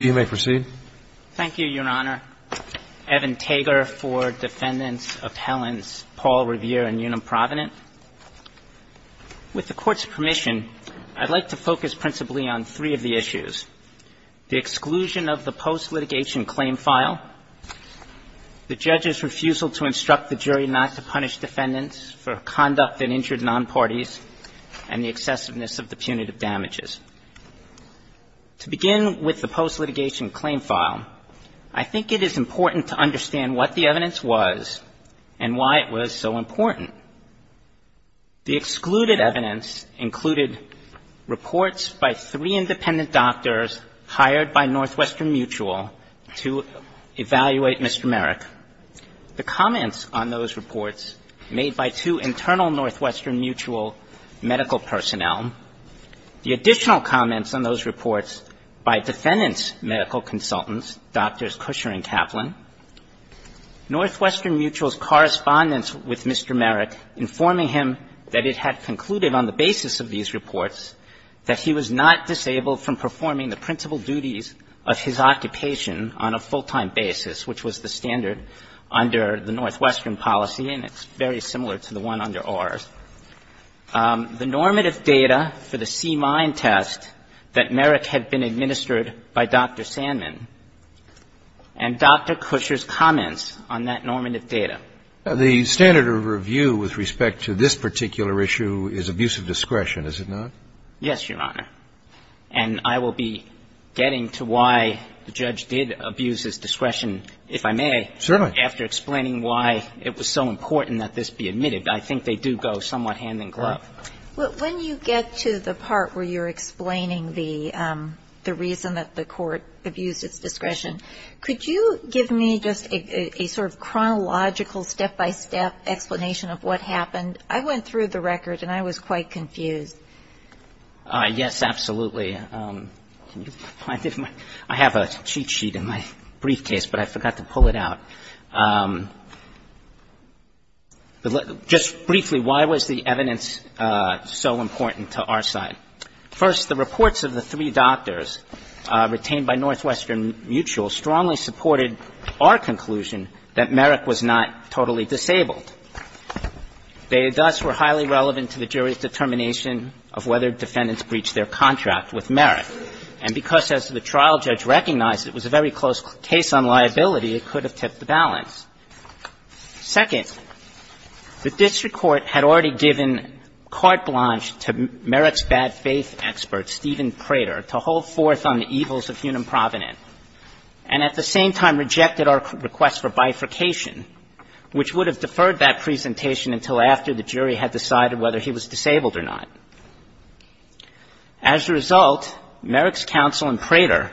With the court's permission, I'd like to focus principally on three of the issues, the exclusion of the post-litigation claim file, the judge's refusal to instruct the jury not to punish defendants for conduct that injured non-parties, and the excessiveness of the punitive damages. To begin with the post-litigation claim file, I think it is important to understand what the evidence was and why it was so important. The excluded evidence included reports by three independent doctors hired by Northwestern Mutual to evaluate Mr. Merrick. The comments on those reports made by two internal Northwestern Mutual medical personnel, the additional comments on those reports by defendants' medical consultants, Drs. Kusher and Kaplan, Northwestern Mutual's correspondence with Mr. Merrick informing him that it had concluded on the basis of these reports that he was not disabled from performing the principal duties of his occupation on a full-time basis, which was the standard under the Northwestern policy, and it's very similar to the one under ours. The normative data for the C-Mind test that Merrick had been administered by Dr. Sandman and Dr. Kusher's comments on that normative data. The standard of review with respect to this particular issue is abuse of discretion, is it not? Yes, Your Honor. And I will be getting to why the judge did abuse his discretion, if I may. Certainly. After explaining why it was so important that this be admitted. I think they do go somewhat hand-in-glove. When you get to the part where you're explaining the reason that the court abused its discretion, could you give me just a sort of chronological, step-by-step explanation of what happened? I went through the record, and I was quite confused. Yes, absolutely. I have a cheat sheet in my briefcase, but I forgot to pull it out. Just briefly, why was the evidence so important to our side? First, the reports of the three doctors retained by Northwestern Mutual strongly supported our conclusion that Merrick was not totally disabled. They, thus, were highly relevant to the jury's determination of whether defendants breached their contract with Merrick. And because, as the trial judge recognized, it was a very close case on liability, it could have tipped the balance. Second, the district court had already given carte blanche to Merrick's bad faith expert, Stephen Prater, to hold forth on the evils of human provident, and at the same time rejected our request for bifurcation, which would have deferred that presentation until after the jury had decided whether he was disabled or not. As a result, Merrick's counsel and Prater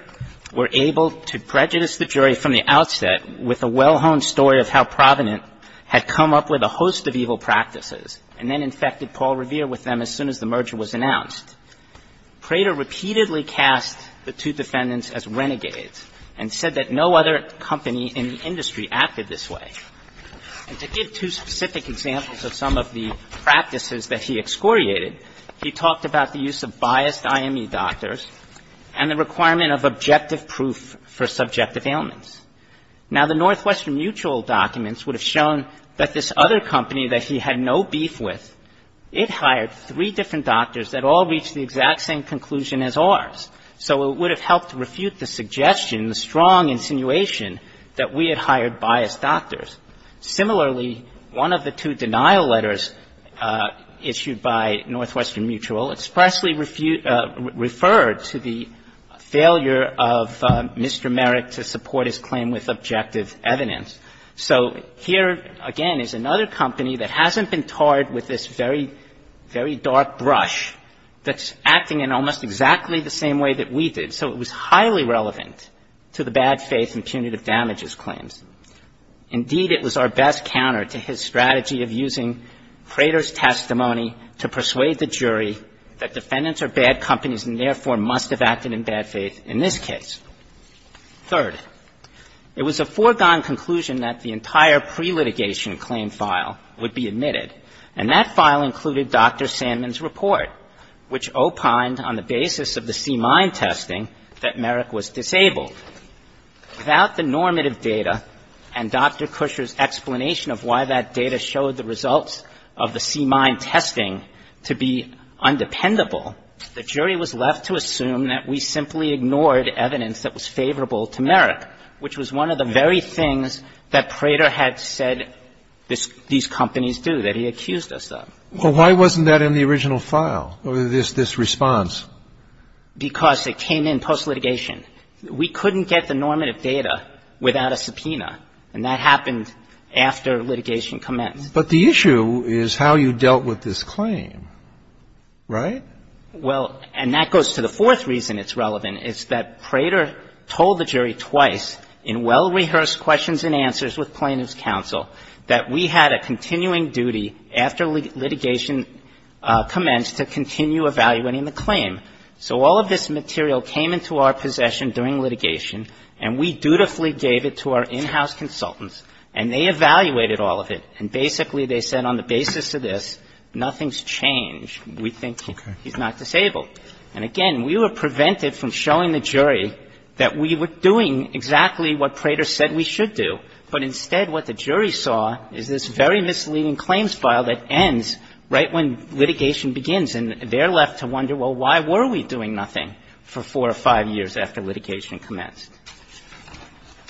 were able to prejudice the jury from the outset with a well-honed story of how provident had come up with a host of evil practices and then infected Paul Revere with them as soon as the merger was announced. Prater repeatedly cast the two defendants as renegades and said that no other company in the industry acted this way. And to give two specific examples of some of the practices that he excoriated, he talked about the use of biased IME doctors and the requirement of objective proof for subjective ailments. Now, the Northwestern Mutual documents would have shown that this other company that he had no beef with, it hired three different doctors that all reached the exact same conclusion as ours. So it would have helped refute the suggestion, the strong insinuation, that we had hired biased doctors. Similarly, one of the two denial letters issued by Northwestern Mutual expressly referred to the failure of Mr. Merrick to support his claim with objective evidence. So here, again, is another company that hasn't been tarred with this very, very dark brush that's acting in almost exactly the same way that we did. So it was highly relevant to the bad faith and punitive damages claims. Indeed, it was our best counter to his strategy of using Prater's testimony to persuade the jury that defendants are bad companies and therefore must have acted in bad faith in this case. Third, it was a foregone conclusion that the entire pre-litigation claim file would be admitted, and that file included Dr. Sandman's report, which opined on the basis of the C-MIND testing that Merrick was disabled. Without the normative data and Dr. Kusher's explanation of why that data showed the C-MIND testing to be undependable, the jury was left to assume that we simply ignored evidence that was favorable to Merrick, which was one of the very things that Prater had said these companies do, that he accused us of. Well, why wasn't that in the original file, this response? Because it came in post-litigation. We couldn't get the normative data without a subpoena, and that happened after litigation commenced. But the issue is how you dealt with this claim, right? Well, and that goes to the fourth reason it's relevant, is that Prater told the jury twice in well-rehearsed questions and answers with plaintiff's counsel that we had a continuing duty after litigation commenced to continue evaluating the claim. So all of this material came into our possession during litigation, and we dutifully gave it to our in-house consultants, and they evaluated all of it, and basically they said on the basis of this, nothing's changed. We think he's not disabled. And again, we were prevented from showing the jury that we were doing exactly what Prater said we should do. But instead, what the jury saw is this very misleading claims file that ends right when litigation begins, and they're left to wonder, well, why were we doing nothing for four or five years after litigation commenced?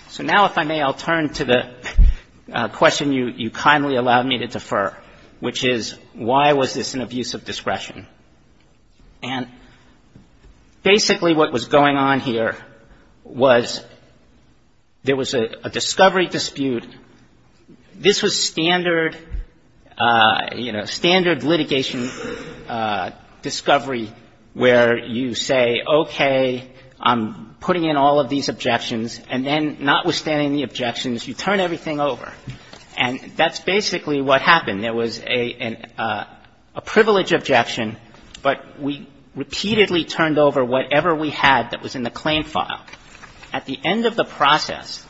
So now, if I may, I'll turn to the question you kindly allowed me to defer, which is, why was this an abuse of discretion? And basically what was going on here was there was a discovery dispute. This was standard, you know, standard litigation discovery where you say, okay, I'm putting in all of these objections, and then notwithstanding the objections, you turn everything over. And that's basically what happened. There was a privilege objection, but we repeatedly turned over whatever we had that was in the claim file. At the end of the process,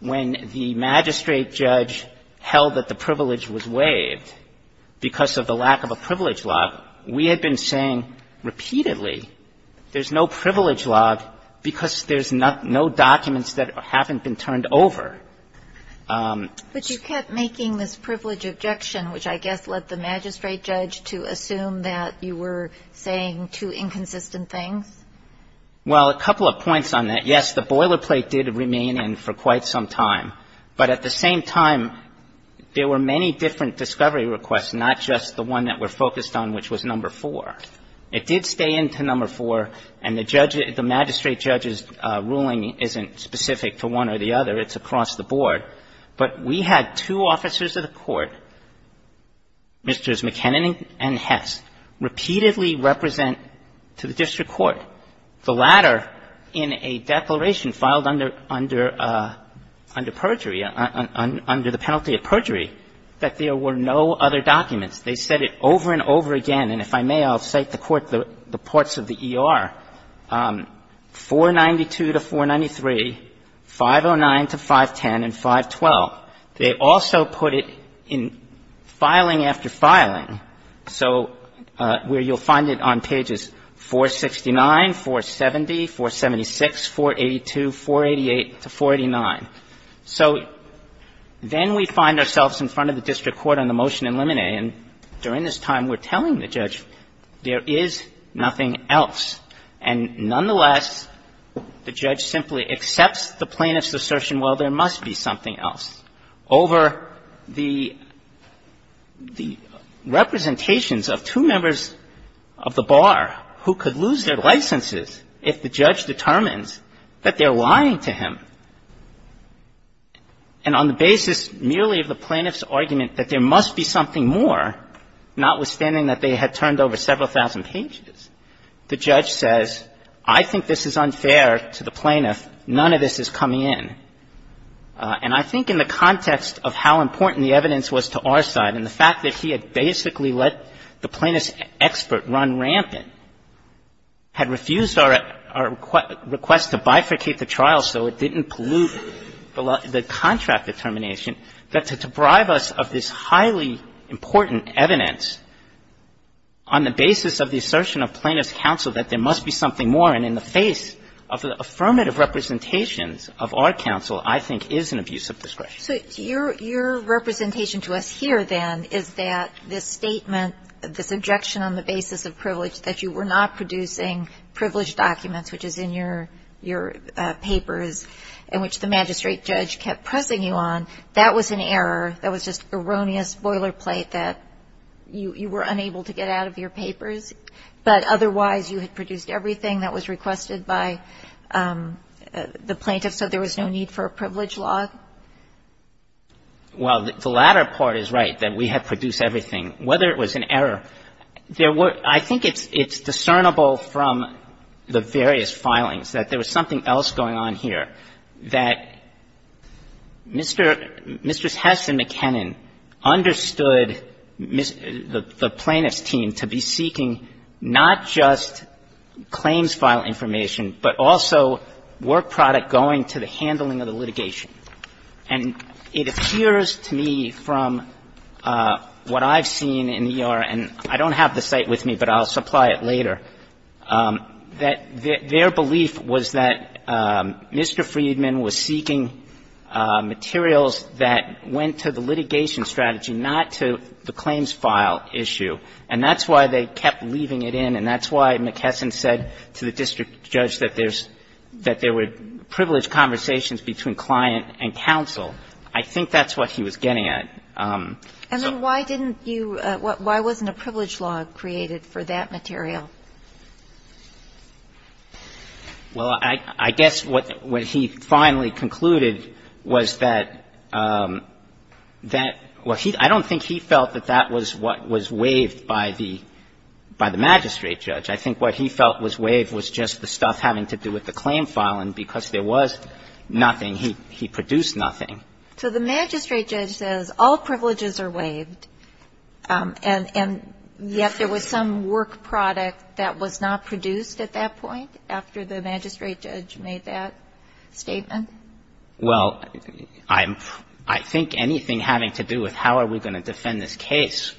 when the magistrate judge held that the privilege was waived because of the lack of a privilege log, we had been saying repeatedly there's no privilege log because there's no documents that haven't been turned over. But you kept making this privilege objection, which I guess led the magistrate judge to assume that you were saying two inconsistent things? Well, a couple of points on that. Yes, the boilerplate did remain in for quite some time. But at the same time, there were many different discovery requests, not just the one that we're focused on, which was No. 4. It did stay in to No. 4, and the magistrate judge's ruling isn't specific to one or the other. It's across the board. But we had two officers of the court, Mr. McKinnon and Hess, repeatedly represent to the district court. The latter in a declaration filed under perjury, under the penalty of perjury, that there were no other documents. They said it over and over again. And if I may, I'll cite the courts of the ER. 492 to 493, 509 to 510, and 512. They also put it in filing after filing. So where you'll find it on pages 469, 470, 476, 482, 488 to 489. So then we find ourselves in front of the district court on the motion in limine, and during this time we're telling the judge there is nothing else. And nonetheless, the judge simply accepts the plaintiff's assertion, well, there are representations of two members of the bar who could lose their licenses if the judge determines that they're lying to him. And on the basis merely of the plaintiff's argument that there must be something more, notwithstanding that they had turned over several thousand pages, the judge says, I think this is unfair to the plaintiff. None of this is coming in. And I think in the context of how important the evidence was to our side and the plaintiff's argument that the plaintiff had simply let the plaintiff's expert run rampant, had refused our request to bifurcate the trial so it didn't pollute the contract determination, that to deprive us of this highly important evidence on the basis of the assertion of plaintiff's counsel that there must be something more, and in the face of the affirmative representations of our counsel, I think is an abuse of discretion. Kagan. So your representation to us here, then, is that this statement, this objection on the basis of privilege, that you were not producing privilege documents, which is in your papers, and which the magistrate judge kept pressing you on, that was an error, that was just erroneous boilerplate that you were unable to get out of your papers, but otherwise you had produced everything that was requested by the plaintiff, so there was no need for a privilege law? Well, the latter part is right, that we had produced everything. Whether it was an error, there were — I think it's discernible from the various filings that there was something else going on here, that Mr. — Mr. Hess and McKinnon understood the plaintiff's team to be seeking not just claims file information but also work product going to the handling of the litigation. And it appears to me from what I've seen in E.R. — and I don't have the site with me, but I'll supply it later — that their belief was that Mr. Friedman was seeking materials that went to the litigation strategy, not to the claims file issue. And that's why they kept leaving it in, and that's why McKesson said to the district judge that there's — that there were privileged conversations between client and counsel. I think that's what he was getting at. And then why didn't you — why wasn't a privilege law created for that material? Well, I guess what he finally concluded was that — that — well, he — I don't think he felt that that was what was waived by the — by the magistrate judge. I think what he felt was waived was just the stuff having to do with the claim file, and because there was nothing, he — he produced nothing. So the magistrate judge says all privileges are waived, and — and yet there was some work product that was not produced at that point after the magistrate judge made that statement? Well, I'm — I think anything having to do with how are we going to defend this case,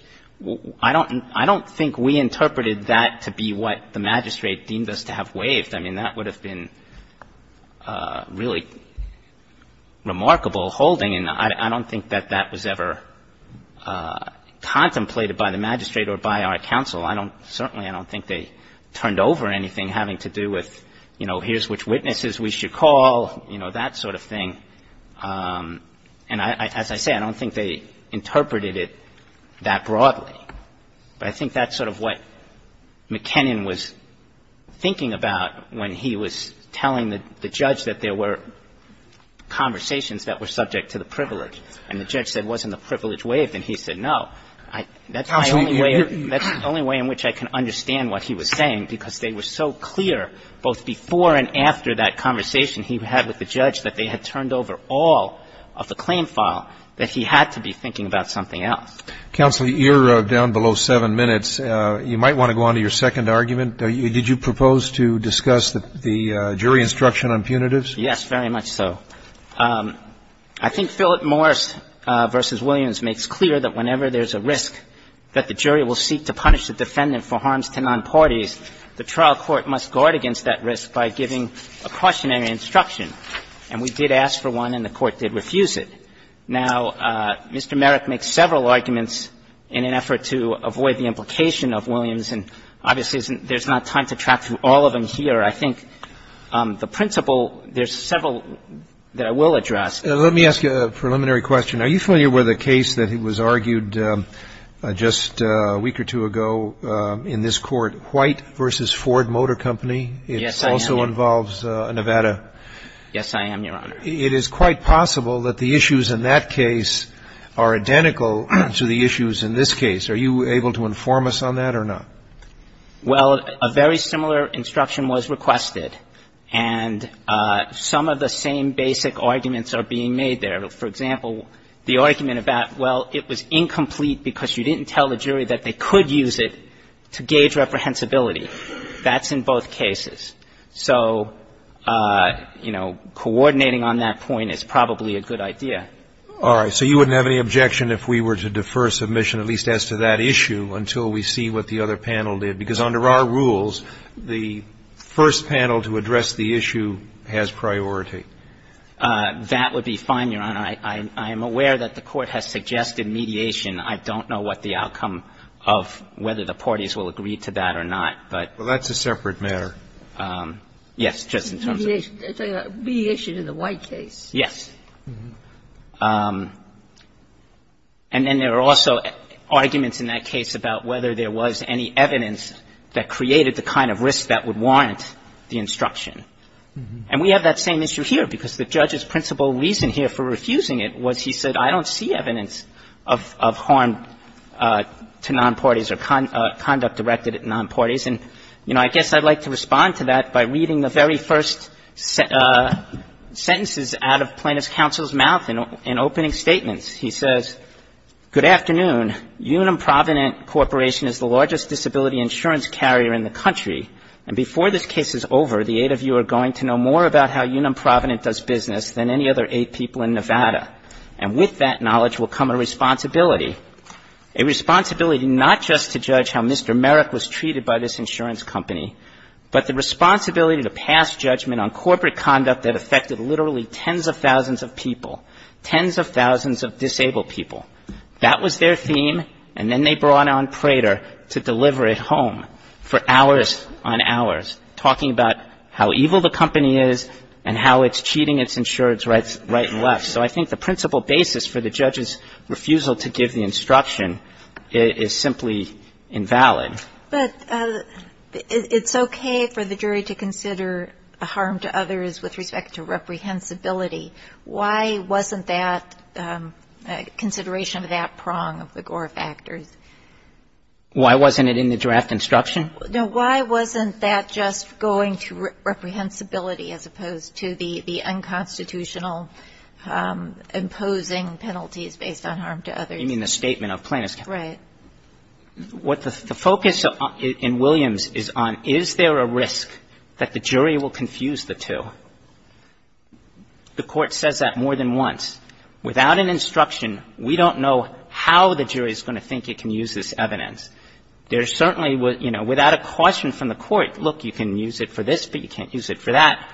I don't — I don't think we interpreted that to be what the magistrate deemed us to have waived. I mean, that would have been really remarkable holding, and I don't think that that was ever contemplated by the magistrate or by our counsel. I don't — certainly I don't think they turned over anything having to do with, you know, here's which witnesses we should call, you know, that sort of thing. And as I say, I don't think they interpreted it that broadly. But I think that's sort of what McKinnon was thinking about when he was telling the — the judge that there were conversations that were subject to the privilege, and the judge said, wasn't the privilege waived? And he said, no. That's my only way — that's the only way in which I can understand what he was saying, because they were so clear, both before and after that conversation he had with the judge, that they had turned over all of the claim file, that he had to be thinking about something else. Counsel, you're down below seven minutes. You might want to go on to your second argument. Did you propose to discuss the jury instruction on punitives? Yes, very much so. I think Philip Morris v. Williams makes clear that whenever there's a risk that the jury will seek to punish the defendant for harms to nonparties, the trial court must guard against that risk by giving a cautionary instruction. And we did ask for one, and the Court did refuse it. Now, Mr. Merrick makes several arguments in an effort to avoid the implication of Williams, and obviously there's not time to track through all of them here. I think the principle — there's several that I will address. Let me ask you a preliminary question. Are you familiar with a case that was argued just a week or two ago in this Court, White v. Ford Motor Company? Yes, I am, Your Honor. It also involves Nevada. Yes, I am, Your Honor. It is quite possible that the issues in that case are identical to the issues in this case. Are you able to inform us on that or not? Well, a very similar instruction was requested, and some of the same basic arguments are being made there. For example, the argument about, well, it was incomplete because you didn't tell the jury that they could use it to gauge reprehensibility, that's in both cases. So, you know, coordinating on that point is probably a good idea. All right. So you wouldn't have any objection if we were to defer submission at least as to that issue until we see what the other panel did? Because under our rules, the first panel to address the issue has priority. That would be fine, Your Honor. I am aware that the Court has suggested mediation. I don't know what the outcome of whether the parties will agree to that or not. Well, that's a separate matter. Yes, just in terms of the case. Mediation in the White case. Yes. And then there are also arguments in that case about whether there was any evidence that created the kind of risk that would warrant the instruction. And we have that same issue here, because the judge's principal reason here for refusing it was he said, I don't see evidence of harm to nonparties or conduct directed at nonparties. And, you know, I guess I would like to respond to that by reading the very first sentences out of Plaintiff's counsel's mouth in opening statements. He says, Good afternoon. Unum Provident Corporation is the largest disability insurance carrier in the country. And before this case is over, the eight of you are going to know more about how Unum Provident does business than any other eight people in Nevada. And with that knowledge will come a responsibility, a responsibility not just to judge how Mr. Merrick was treated by this insurance company, but the responsibility to pass judgment on corporate conduct that affected literally tens of thousands of people, tens of thousands of disabled people. That was their theme, and then they brought on Prater to deliver it home for hours on hours, talking about how evil the company is and how it's cheating its insurance rights right and left. So I think the principal basis for the judge's refusal to give the instruction is simply invalid. But it's okay for the jury to consider harm to others with respect to reprehensibility. Why wasn't that consideration of that prong of the Gore factors? Why wasn't it in the draft instruction? No. Why wasn't that just going to reprehensibility as opposed to the unconstitutional imposing penalties based on harm to others? You mean the statement of plaintiffs? Right. What the focus in Williams is on, is there a risk that the jury will confuse the two? The Court says that more than once. Without an instruction, we don't know how the jury is going to think it can use this evidence. There certainly was, you know, without a question from the Court, look, you can use it for this, but you can't use it for that,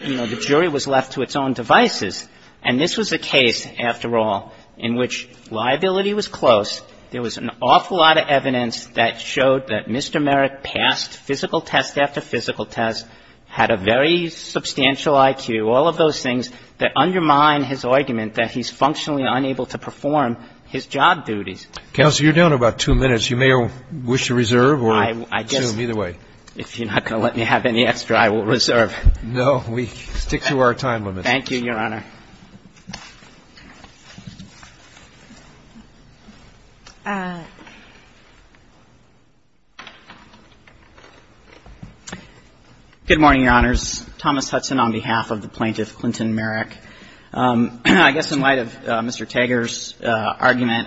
you know, the jury was left to its own devices. And this was a case, after all, in which liability was close. There was an awful lot of evidence that showed that Mr. Merrick passed physical test after physical test, had a very substantial IQ, all of those things that undermine his argument that he's functionally unable to perform his job duties. Counsel, you're down to about two minutes. You may wish to reserve or assume. Either way. If you're not going to let me have any extra, I will reserve. No. We stick to our time limit. Thank you, Your Honor. Good morning, Your Honors. Thomas Hudson on behalf of the plaintiff, Clinton Merrick. I guess in light of Mr. Tager's argument,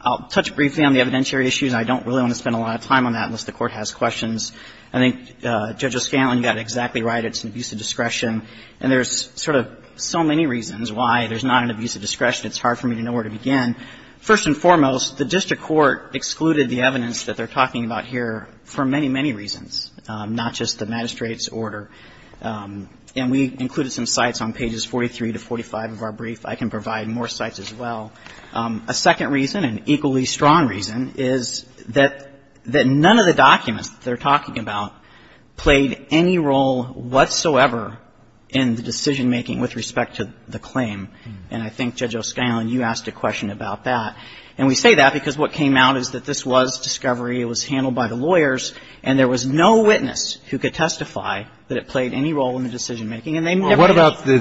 I'll touch briefly on the evidentiary issues, and I don't really want to spend a lot of time on that unless the Court has questions. I think Judge O'Scanlan got it exactly right. It's an abuse of discretion. And there's sort of so many reasons why there's not an abuse of discretion, it's hard for me to know where to begin. First and foremost, the district court excluded the evidence that they're talking about here for many, many reasons, not just the magistrate's order. And we included some sites on pages 43 to 45 of our brief. I can provide more sites as well. A second reason, an equally strong reason, is that none of the documents that they're in the decision-making with respect to the claim. And I think, Judge O'Scanlan, you asked a question about that. And we say that because what came out is that this was discovery, it was handled by the lawyers, and there was no witness who could testify that it played any role in the decision-making. And they never did.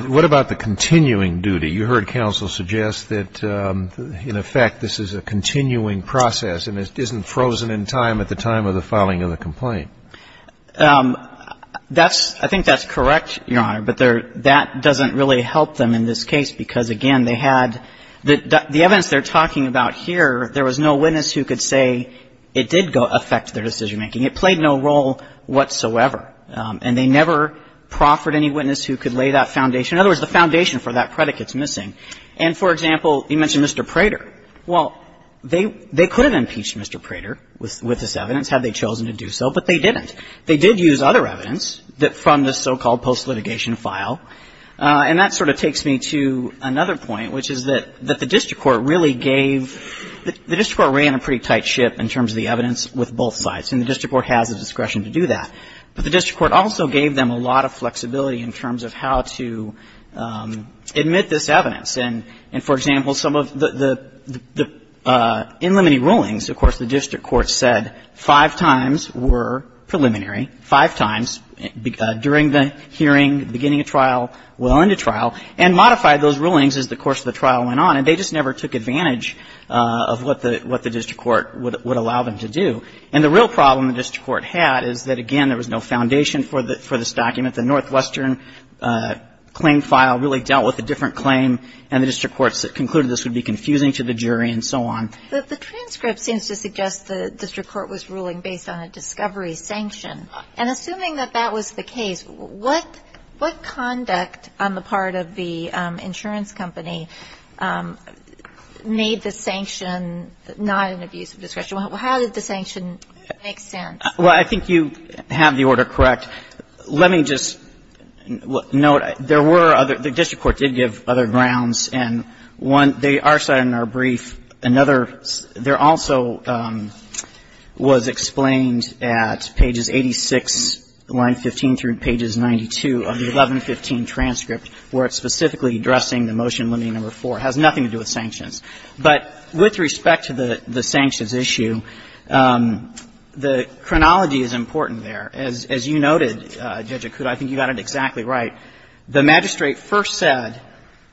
Well, what about the continuing duty? You heard counsel suggest that, in effect, this is a continuing process and isn't frozen in time at the time of the filing of the complaint. I think that's correct, Your Honor, but that doesn't really help them in this case because, again, they had the evidence they're talking about here, there was no witness who could say it did affect their decision-making. It played no role whatsoever. And they never proffered any witness who could lay that foundation. In other words, the foundation for that predicate is missing. And, for example, you mentioned Mr. Prater. Well, they could have impeached Mr. Prater with this evidence had they chosen to do so, but they didn't. They did use other evidence from the so-called post-litigation file. And that sort of takes me to another point, which is that the district court really gave the district court ran a pretty tight ship in terms of the evidence with both sides, and the district court has the discretion to do that. But the district court also gave them a lot of flexibility in terms of how to admit this evidence. And, for example, some of the inlimited rulings, of course, the district court said that five times were preliminary, five times during the hearing, beginning of trial, well into trial, and modified those rulings as the course of the trial went on, and they just never took advantage of what the district court would allow them to do. And the real problem the district court had is that, again, there was no foundation for this document. The Northwestern claim file really dealt with a different claim, and the district court concluded this would be confusing to the jury and so on. But the transcript seems to suggest the district court was ruling based on a discovery sanction, and assuming that that was the case, what conduct on the part of the insurance company made the sanction not an abuse of discretion? How did the sanction make sense? Well, I think you have the order correct. Let me just note, there were other – the district court did give other grounds, and one, they are cited in our brief. Another, there also was explained at pages 86, line 15, through pages 92 of the 1115 transcript, where it's specifically addressing the motion limiting number 4. It has nothing to do with sanctions. But with respect to the sanctions issue, the chronology is important there. As you noted, Judge Akuta, I think you got it exactly right. The magistrate first said,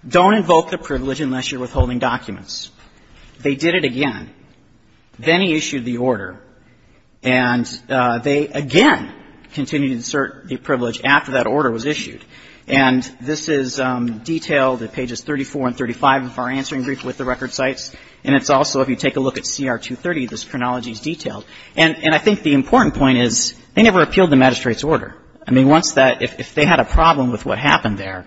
don't invoke the privilege unless you're withholding documents. They did it again. Then he issued the order, and they again continued to assert the privilege after that order was issued. And this is detailed at pages 34 and 35 of our answering brief with the record cites, and it's also, if you take a look at CR 230, this chronology is detailed. And I think the important point is they never appealed the magistrate's order. I mean, once that – if they had a problem with what happened there,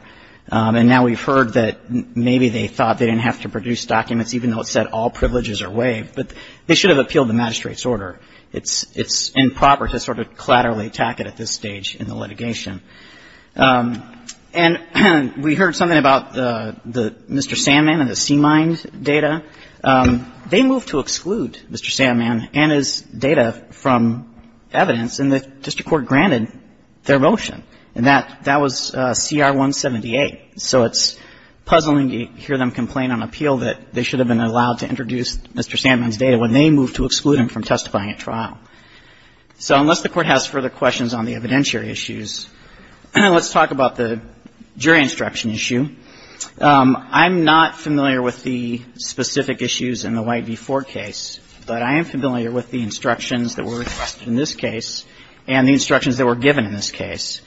and now we've heard that maybe they thought they didn't have to produce documents, even though it said all privileges are waived, but they should have appealed the magistrate's order. It's improper to sort of collaterally attack it at this stage in the litigation. And we heard something about Mr. Sandman and the C-Mind data. They moved to exclude Mr. Sandman and his data from evidence, and the district court granted their motion. And that was CR 178. So it's puzzling to hear them complain on appeal that they should have been allowed to introduce Mr. Sandman's data when they moved to exclude him from testifying at trial. So unless the Court has further questions on the evidentiary issues, let's talk about the jury instruction issue. I'm not familiar with the specific issues in the White v. Ford case, but I am familiar with the instructions that were requested in this case and the instructions that were given in this case.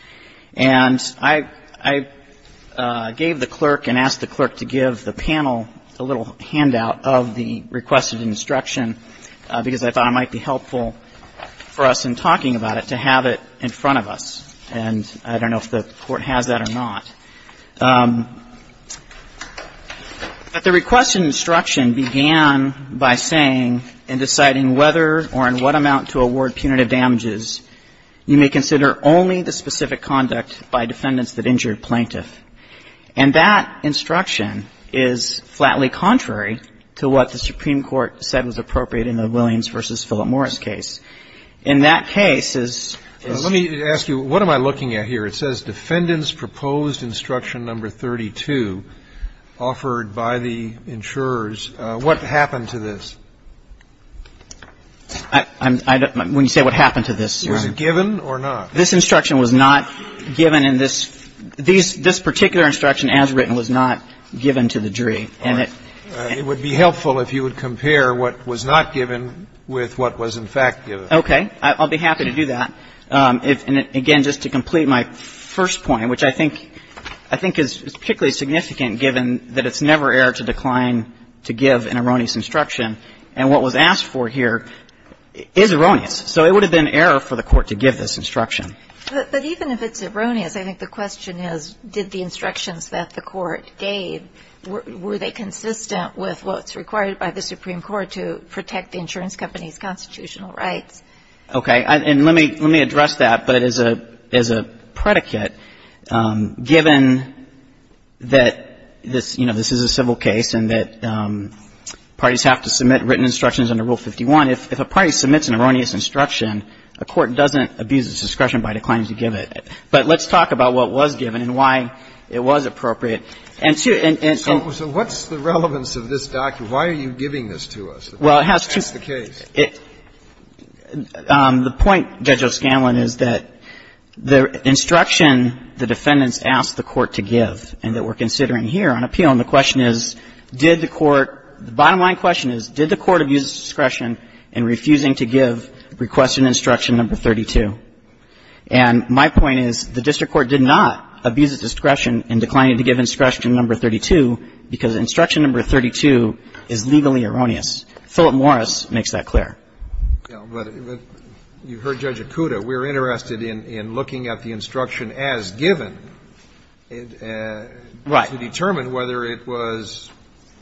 And I gave the clerk and asked the clerk to give the panel a little handout of the requested instruction, because I thought it might be helpful for us in talking about it to have it in front of us. And I don't know if the Court has that or not. But the requested instruction began by saying, in deciding whether or in what amount to award punitive damages, you may consider only the specific conduct by defendants that injured plaintiff. And that instruction is flatly contrary to what the Supreme Court said was appropriate in the Williams v. Philip Morris case. In that case, as ---- Let me ask you, what am I looking at here? It says defendants proposed instruction number 32 offered by the insurers. What happened to this? I'm not going to say what happened to this. Was it given or not? This instruction was not given in this. This particular instruction, as written, was not given to the jury. And it would be helpful if you would compare what was not given with what was in fact given. Okay. I'll be happy to do that. Again, just to complete my first point, which I think is particularly significant given that it's never error to decline to give an erroneous instruction. And what was asked for here is erroneous. So it would have been error for the Court to give this instruction. But even if it's erroneous, I think the question is did the instructions that the Court gave, were they consistent with what's required by the Supreme Court to protect the insurance company's constitutional rights? Okay. And let me address that. But as a predicate, given that this, you know, this is a civil case and that parties have to submit written instructions under Rule 51, if a party submits an erroneous instruction, a court doesn't abuse its discretion by declining to give it. But let's talk about what was given and why it was appropriate. And to and to and to. So what's the relevance of this document? Why are you giving this to us? Well, it has to. That's the case. The point, Judge O'Scanlan, is that the instruction the defendants asked the Court to give and that we're considering here on appeal, and the question is did the Court the bottom line question is did the Court abuse its discretion in refusing to give Requested Instruction No. 32? And my point is the district court did not abuse its discretion in declining to give Instruction No. 32 because Instruction No. 32 is legally erroneous. Philip Morris makes that clear. But you heard Judge Okuda. We're interested in looking at the instruction as given to determine whether it was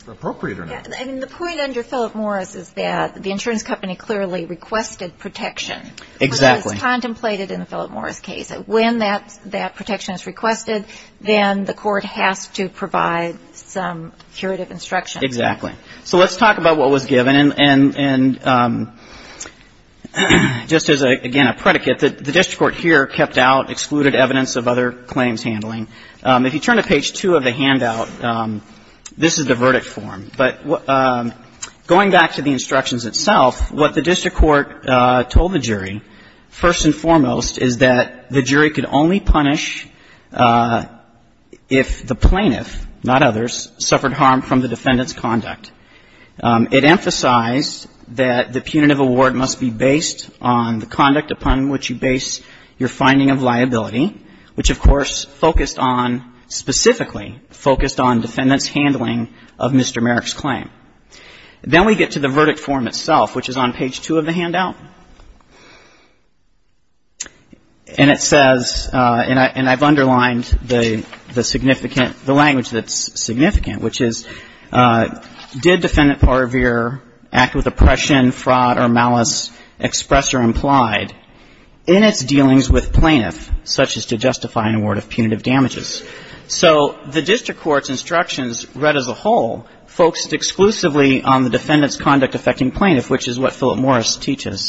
appropriate or not. And the point under Philip Morris is that the insurance company clearly requested protection. Exactly. But it was contemplated in the Philip Morris case. When that protection is requested, then the Court has to provide some curative instruction. Exactly. So let's talk about what was given. And just as, again, a predicate, the district court here kept out excluded evidence of other claims handling. If you turn to page 2 of the handout, this is the verdict form. But going back to the instructions itself, what the district court told the jury, first and foremost, is that the jury could only punish if the plaintiff, not others, suffered harm from the defendant's conduct. It emphasized that the punitive award must be based on the conduct upon which you base your finding of liability, which, of course, focused on specifically focused on defendant's handling of Mr. Merrick's claim. Then we get to the verdict form itself, which is on page 2 of the handout. And it says, and I've underlined the significant, the language that's significant, which is, did defendant Parveer act with oppression, fraud, or malice expressed or implied in its dealings with plaintiff, such as to justify an award of punitive damages? So the district court's instructions read as a whole, focused exclusively on the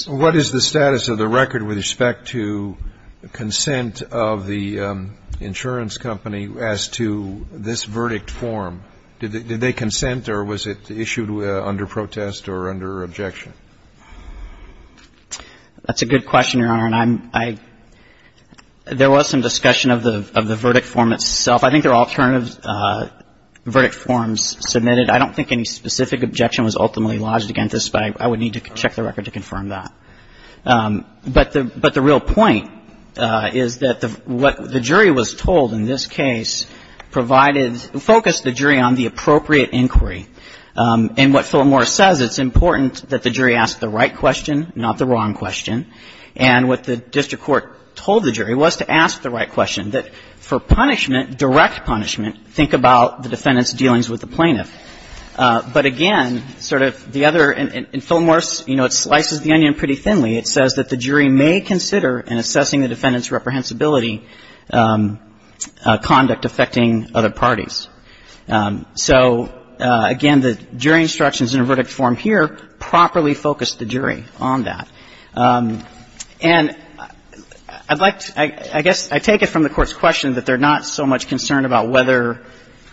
What is the status of the record with respect to consent of the insurance company as to this verdict form? Did they consent or was it issued under protest or under objection? That's a good question, Your Honor. And I'm, I, there was some discussion of the, of the verdict form itself. I think there are alternative verdict forms submitted. I don't think any specific objection was ultimately lodged against this, but I would need to check the record to confirm that. But the, but the real point is that the, what the jury was told in this case provided, focused the jury on the appropriate inquiry. And what Phil Moore says, it's important that the jury ask the right question, not the wrong question. And what the district court told the jury was to ask the right question, that for punishment, direct punishment, think about the defendant's dealings with the plaintiff. But, again, sort of the other, in Phil Moore's, you know, it slices the onion pretty thinly. It says that the jury may consider in assessing the defendant's reprehensibility conduct affecting other parties. So, again, the jury instructions in the verdict form here properly focused the jury on that. And I'd like to, I guess I take it from the Court's question that they're not so much concerned about whether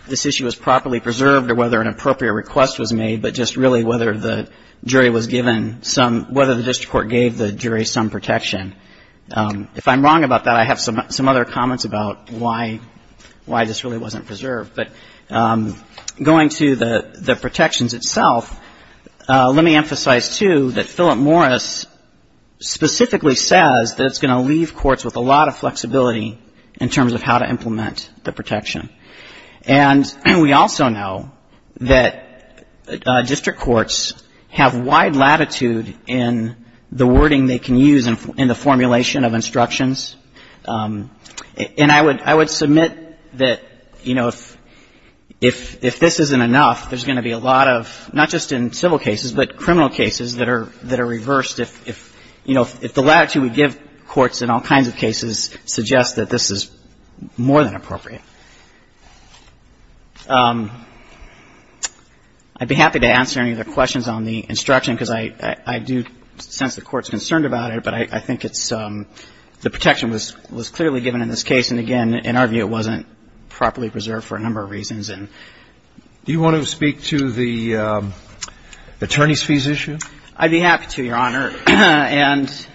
this issue is properly preserved or whether an appropriate request was made, but just really whether the jury was given some, whether the district court gave the jury some protection. If I'm wrong about that, I have some other comments about why this really wasn't preserved. But going to the protections itself, let me emphasize, too, that Philip Morris specifically says that it's going to leave courts with a lot of flexibility in terms of how to implement the protection. And we also know that district courts have wide latitude in the wording they can use in the formulation of instructions. And I would submit that, you know, if this isn't enough, there's going to be a lot of, not just in civil cases, but criminal cases that are reversed if, you know, if the latitude we give courts in all kinds of cases suggests that this is more than appropriate. I'd be happy to answer any other questions on the instruction because I do sense the Court's concerned about it, but I think it's the protection was clearly given in this case. And, again, in our view, it wasn't properly preserved for a number of reasons. And do you want to speak to the attorneys' fees issue? I'd be happy to, Your Honor. And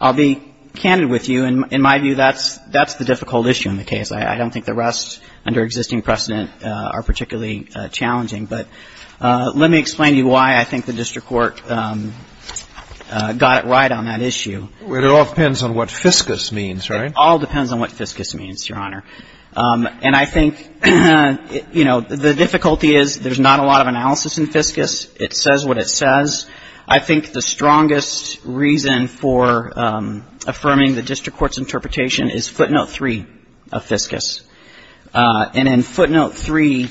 I'll be candid with you. In my view, that's the difficult issue in the case. I don't think the rest under existing precedent are particularly challenging. But let me explain to you why I think the district court got it right on that issue. It all depends on what fiscus means, right? It all depends on what fiscus means, Your Honor. And I think, you know, the difficulty is there's not a lot of analysis in fiscus. It says what it says. I think the strongest reason for affirming the district court's interpretation is footnote 3 of fiscus. And in footnote 3,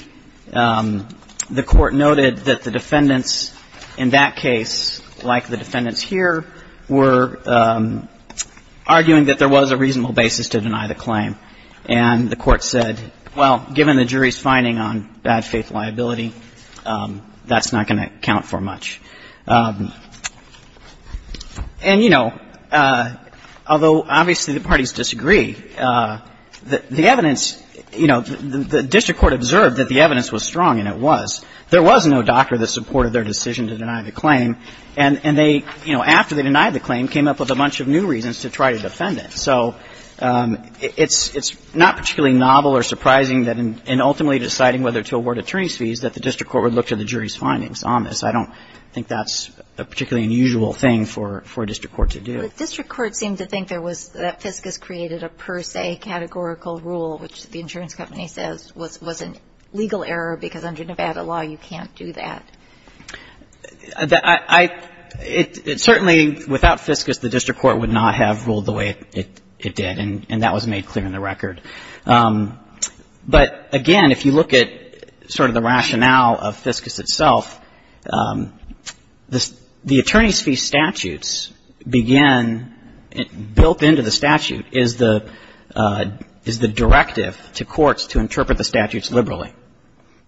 the Court noted that the defendants in that case, like the defendants here, were arguing that there was a reasonable basis to deny the claim. And the Court said, well, given the jury's finding on bad faith liability, that's not going to count for much. And, you know, although obviously the parties disagree, the evidence, you know, the district court observed that the evidence was strong, and it was. There was no doctor that supported their decision to deny the claim. And they, you know, after they denied the claim, came up with a bunch of new reasons to try to defend it. So it's not particularly novel or surprising that in ultimately deciding whether to award attorney's fees, that the district court would look to the jury's findings on this. I don't think that's a particularly unusual thing for a district court to do. But district courts seem to think there was that fiscus created a per se categorical rule, which the insurance company says was a legal error because under Nevada law, you can't do that. I — it certainly, without fiscus, the district court would not have ruled the way it did, and that was made clear in the record. But, again, if you look at sort of the rationale of fiscus itself, the attorney's fee statutes begin — built into the statute is the directive to courts to interpret the statutes liberally.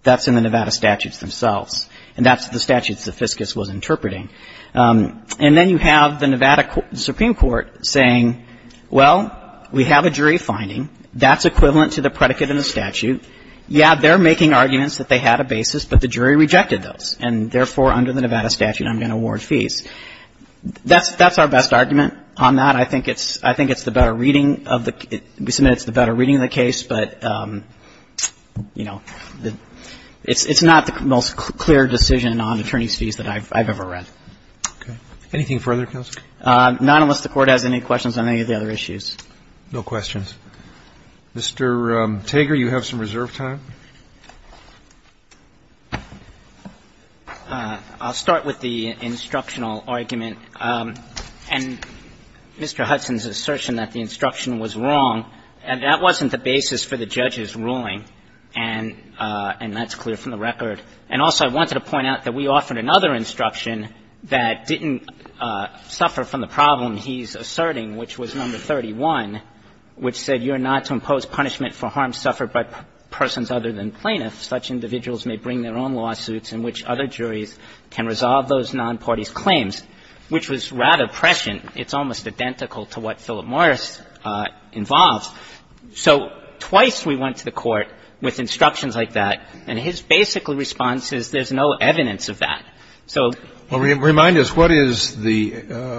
That's in the Nevada statutes themselves. And that's the statutes that fiscus was interpreting. And then you have the Nevada Supreme Court saying, well, we have a jury finding. That's equivalent to the predicate in the statute. Yeah, they're making arguments that they had a basis, but the jury rejected those. And, therefore, under the Nevada statute, I'm going to award fees. That's our best argument on that. I think it's the better reading of the — we submit it's the better reading of the case. But, you know, it's not the most clear decision on attorney's fees that I've ever read. Okay. Anything further, counsel? None, unless the Court has any questions on any of the other issues. No questions. Mr. Tager, you have some reserve time. I'll start with the instructional argument. And Mr. Hudson's assertion that the instruction was wrong, and that wasn't the basis for the judge's ruling, and that's clear from the record. And, also, I wanted to point out that we offered another instruction that didn't suffer from the problem he's asserting, which was number 31, which said, You're not to impose punishment for harms suffered by persons other than plaintiffs. Such individuals may bring their own lawsuits in which other juries can resolve those nonparties' claims, which was rather prescient. It's almost identical to what Philip Morris involved. So twice we went to the Court with instructions like that, and his basic response is there's no evidence of that. Well, remind us, what is the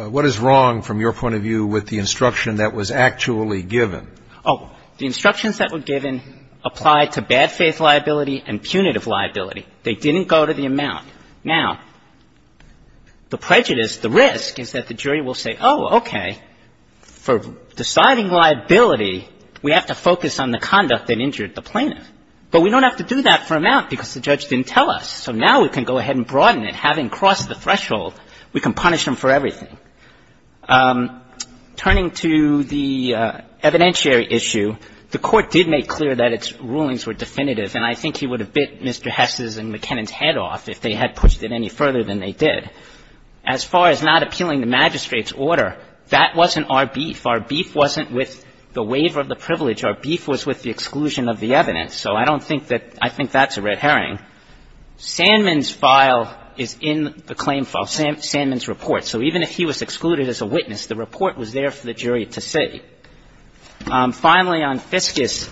– what is wrong, from your point of view, with the instruction that was actually given? Oh. The instructions that were given applied to bad faith liability and punitive liability. They didn't go to the amount. Now, the prejudice, the risk, is that the jury will say, oh, okay, for deciding liability, we have to focus on the conduct that injured the plaintiff. But we don't have to do that for amount because the judge didn't tell us. So now we can go ahead and broaden it. Having crossed the threshold, we can punish them for everything. Turning to the evidentiary issue, the Court did make clear that its rulings were definitive, and I think he would have bit Mr. Hess's and McKinnon's head off if they had pushed it any further than they did. As far as not appealing the magistrate's order, that wasn't our beef. Our beef wasn't with the waiver of the privilege. Our beef was with the exclusion of the evidence. So I don't think that – I think that's a red herring. Sandman's file is in the claim file, Sandman's report. So even if he was excluded as a witness, the report was there for the jury to see. Finally, on Fiscus,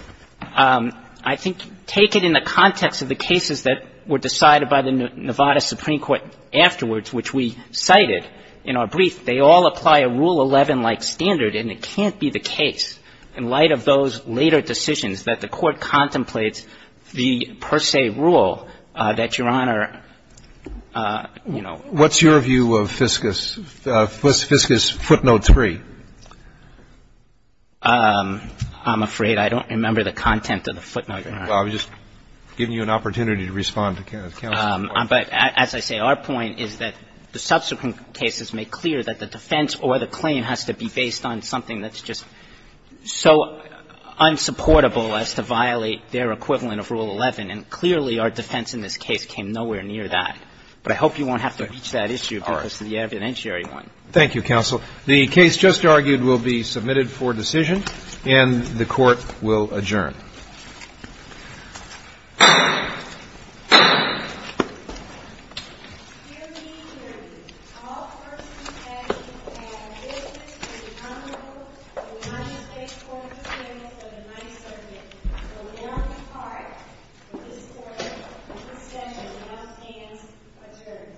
I think take it in the context of the cases that were decided by the Nevada Supreme Court afterwards, which we cited in our brief. They all apply a Rule 11-like standard, and it can't be the case, in light of those later decisions, that the Court contemplates the per se rule that Your Honor, you know – What's your view of Fiscus? Fiscus footnote 3. I'm afraid I don't remember the content of the footnote, Your Honor. Well, I'm just giving you an opportunity to respond to counsel's report. But as I say, our point is that the subsequent cases make clear that the defense or the claim has to be based on something that's just – so I don't think that's unsupportable as to violate their equivalent of Rule 11. And clearly, our defense in this case came nowhere near that. But I hope you won't have to reach that issue because of the evidentiary one. All right. Thank you, counsel. The case just argued will be submitted for decision, and the Court will adjourn. Dearly, dearly. All courts and judges, I have a business to the Honorable United States Court of Appeals of the Ninth Circuit. I will now depart. For this Court, the session must dance adjourned. Thank you. Thank you. Thank you.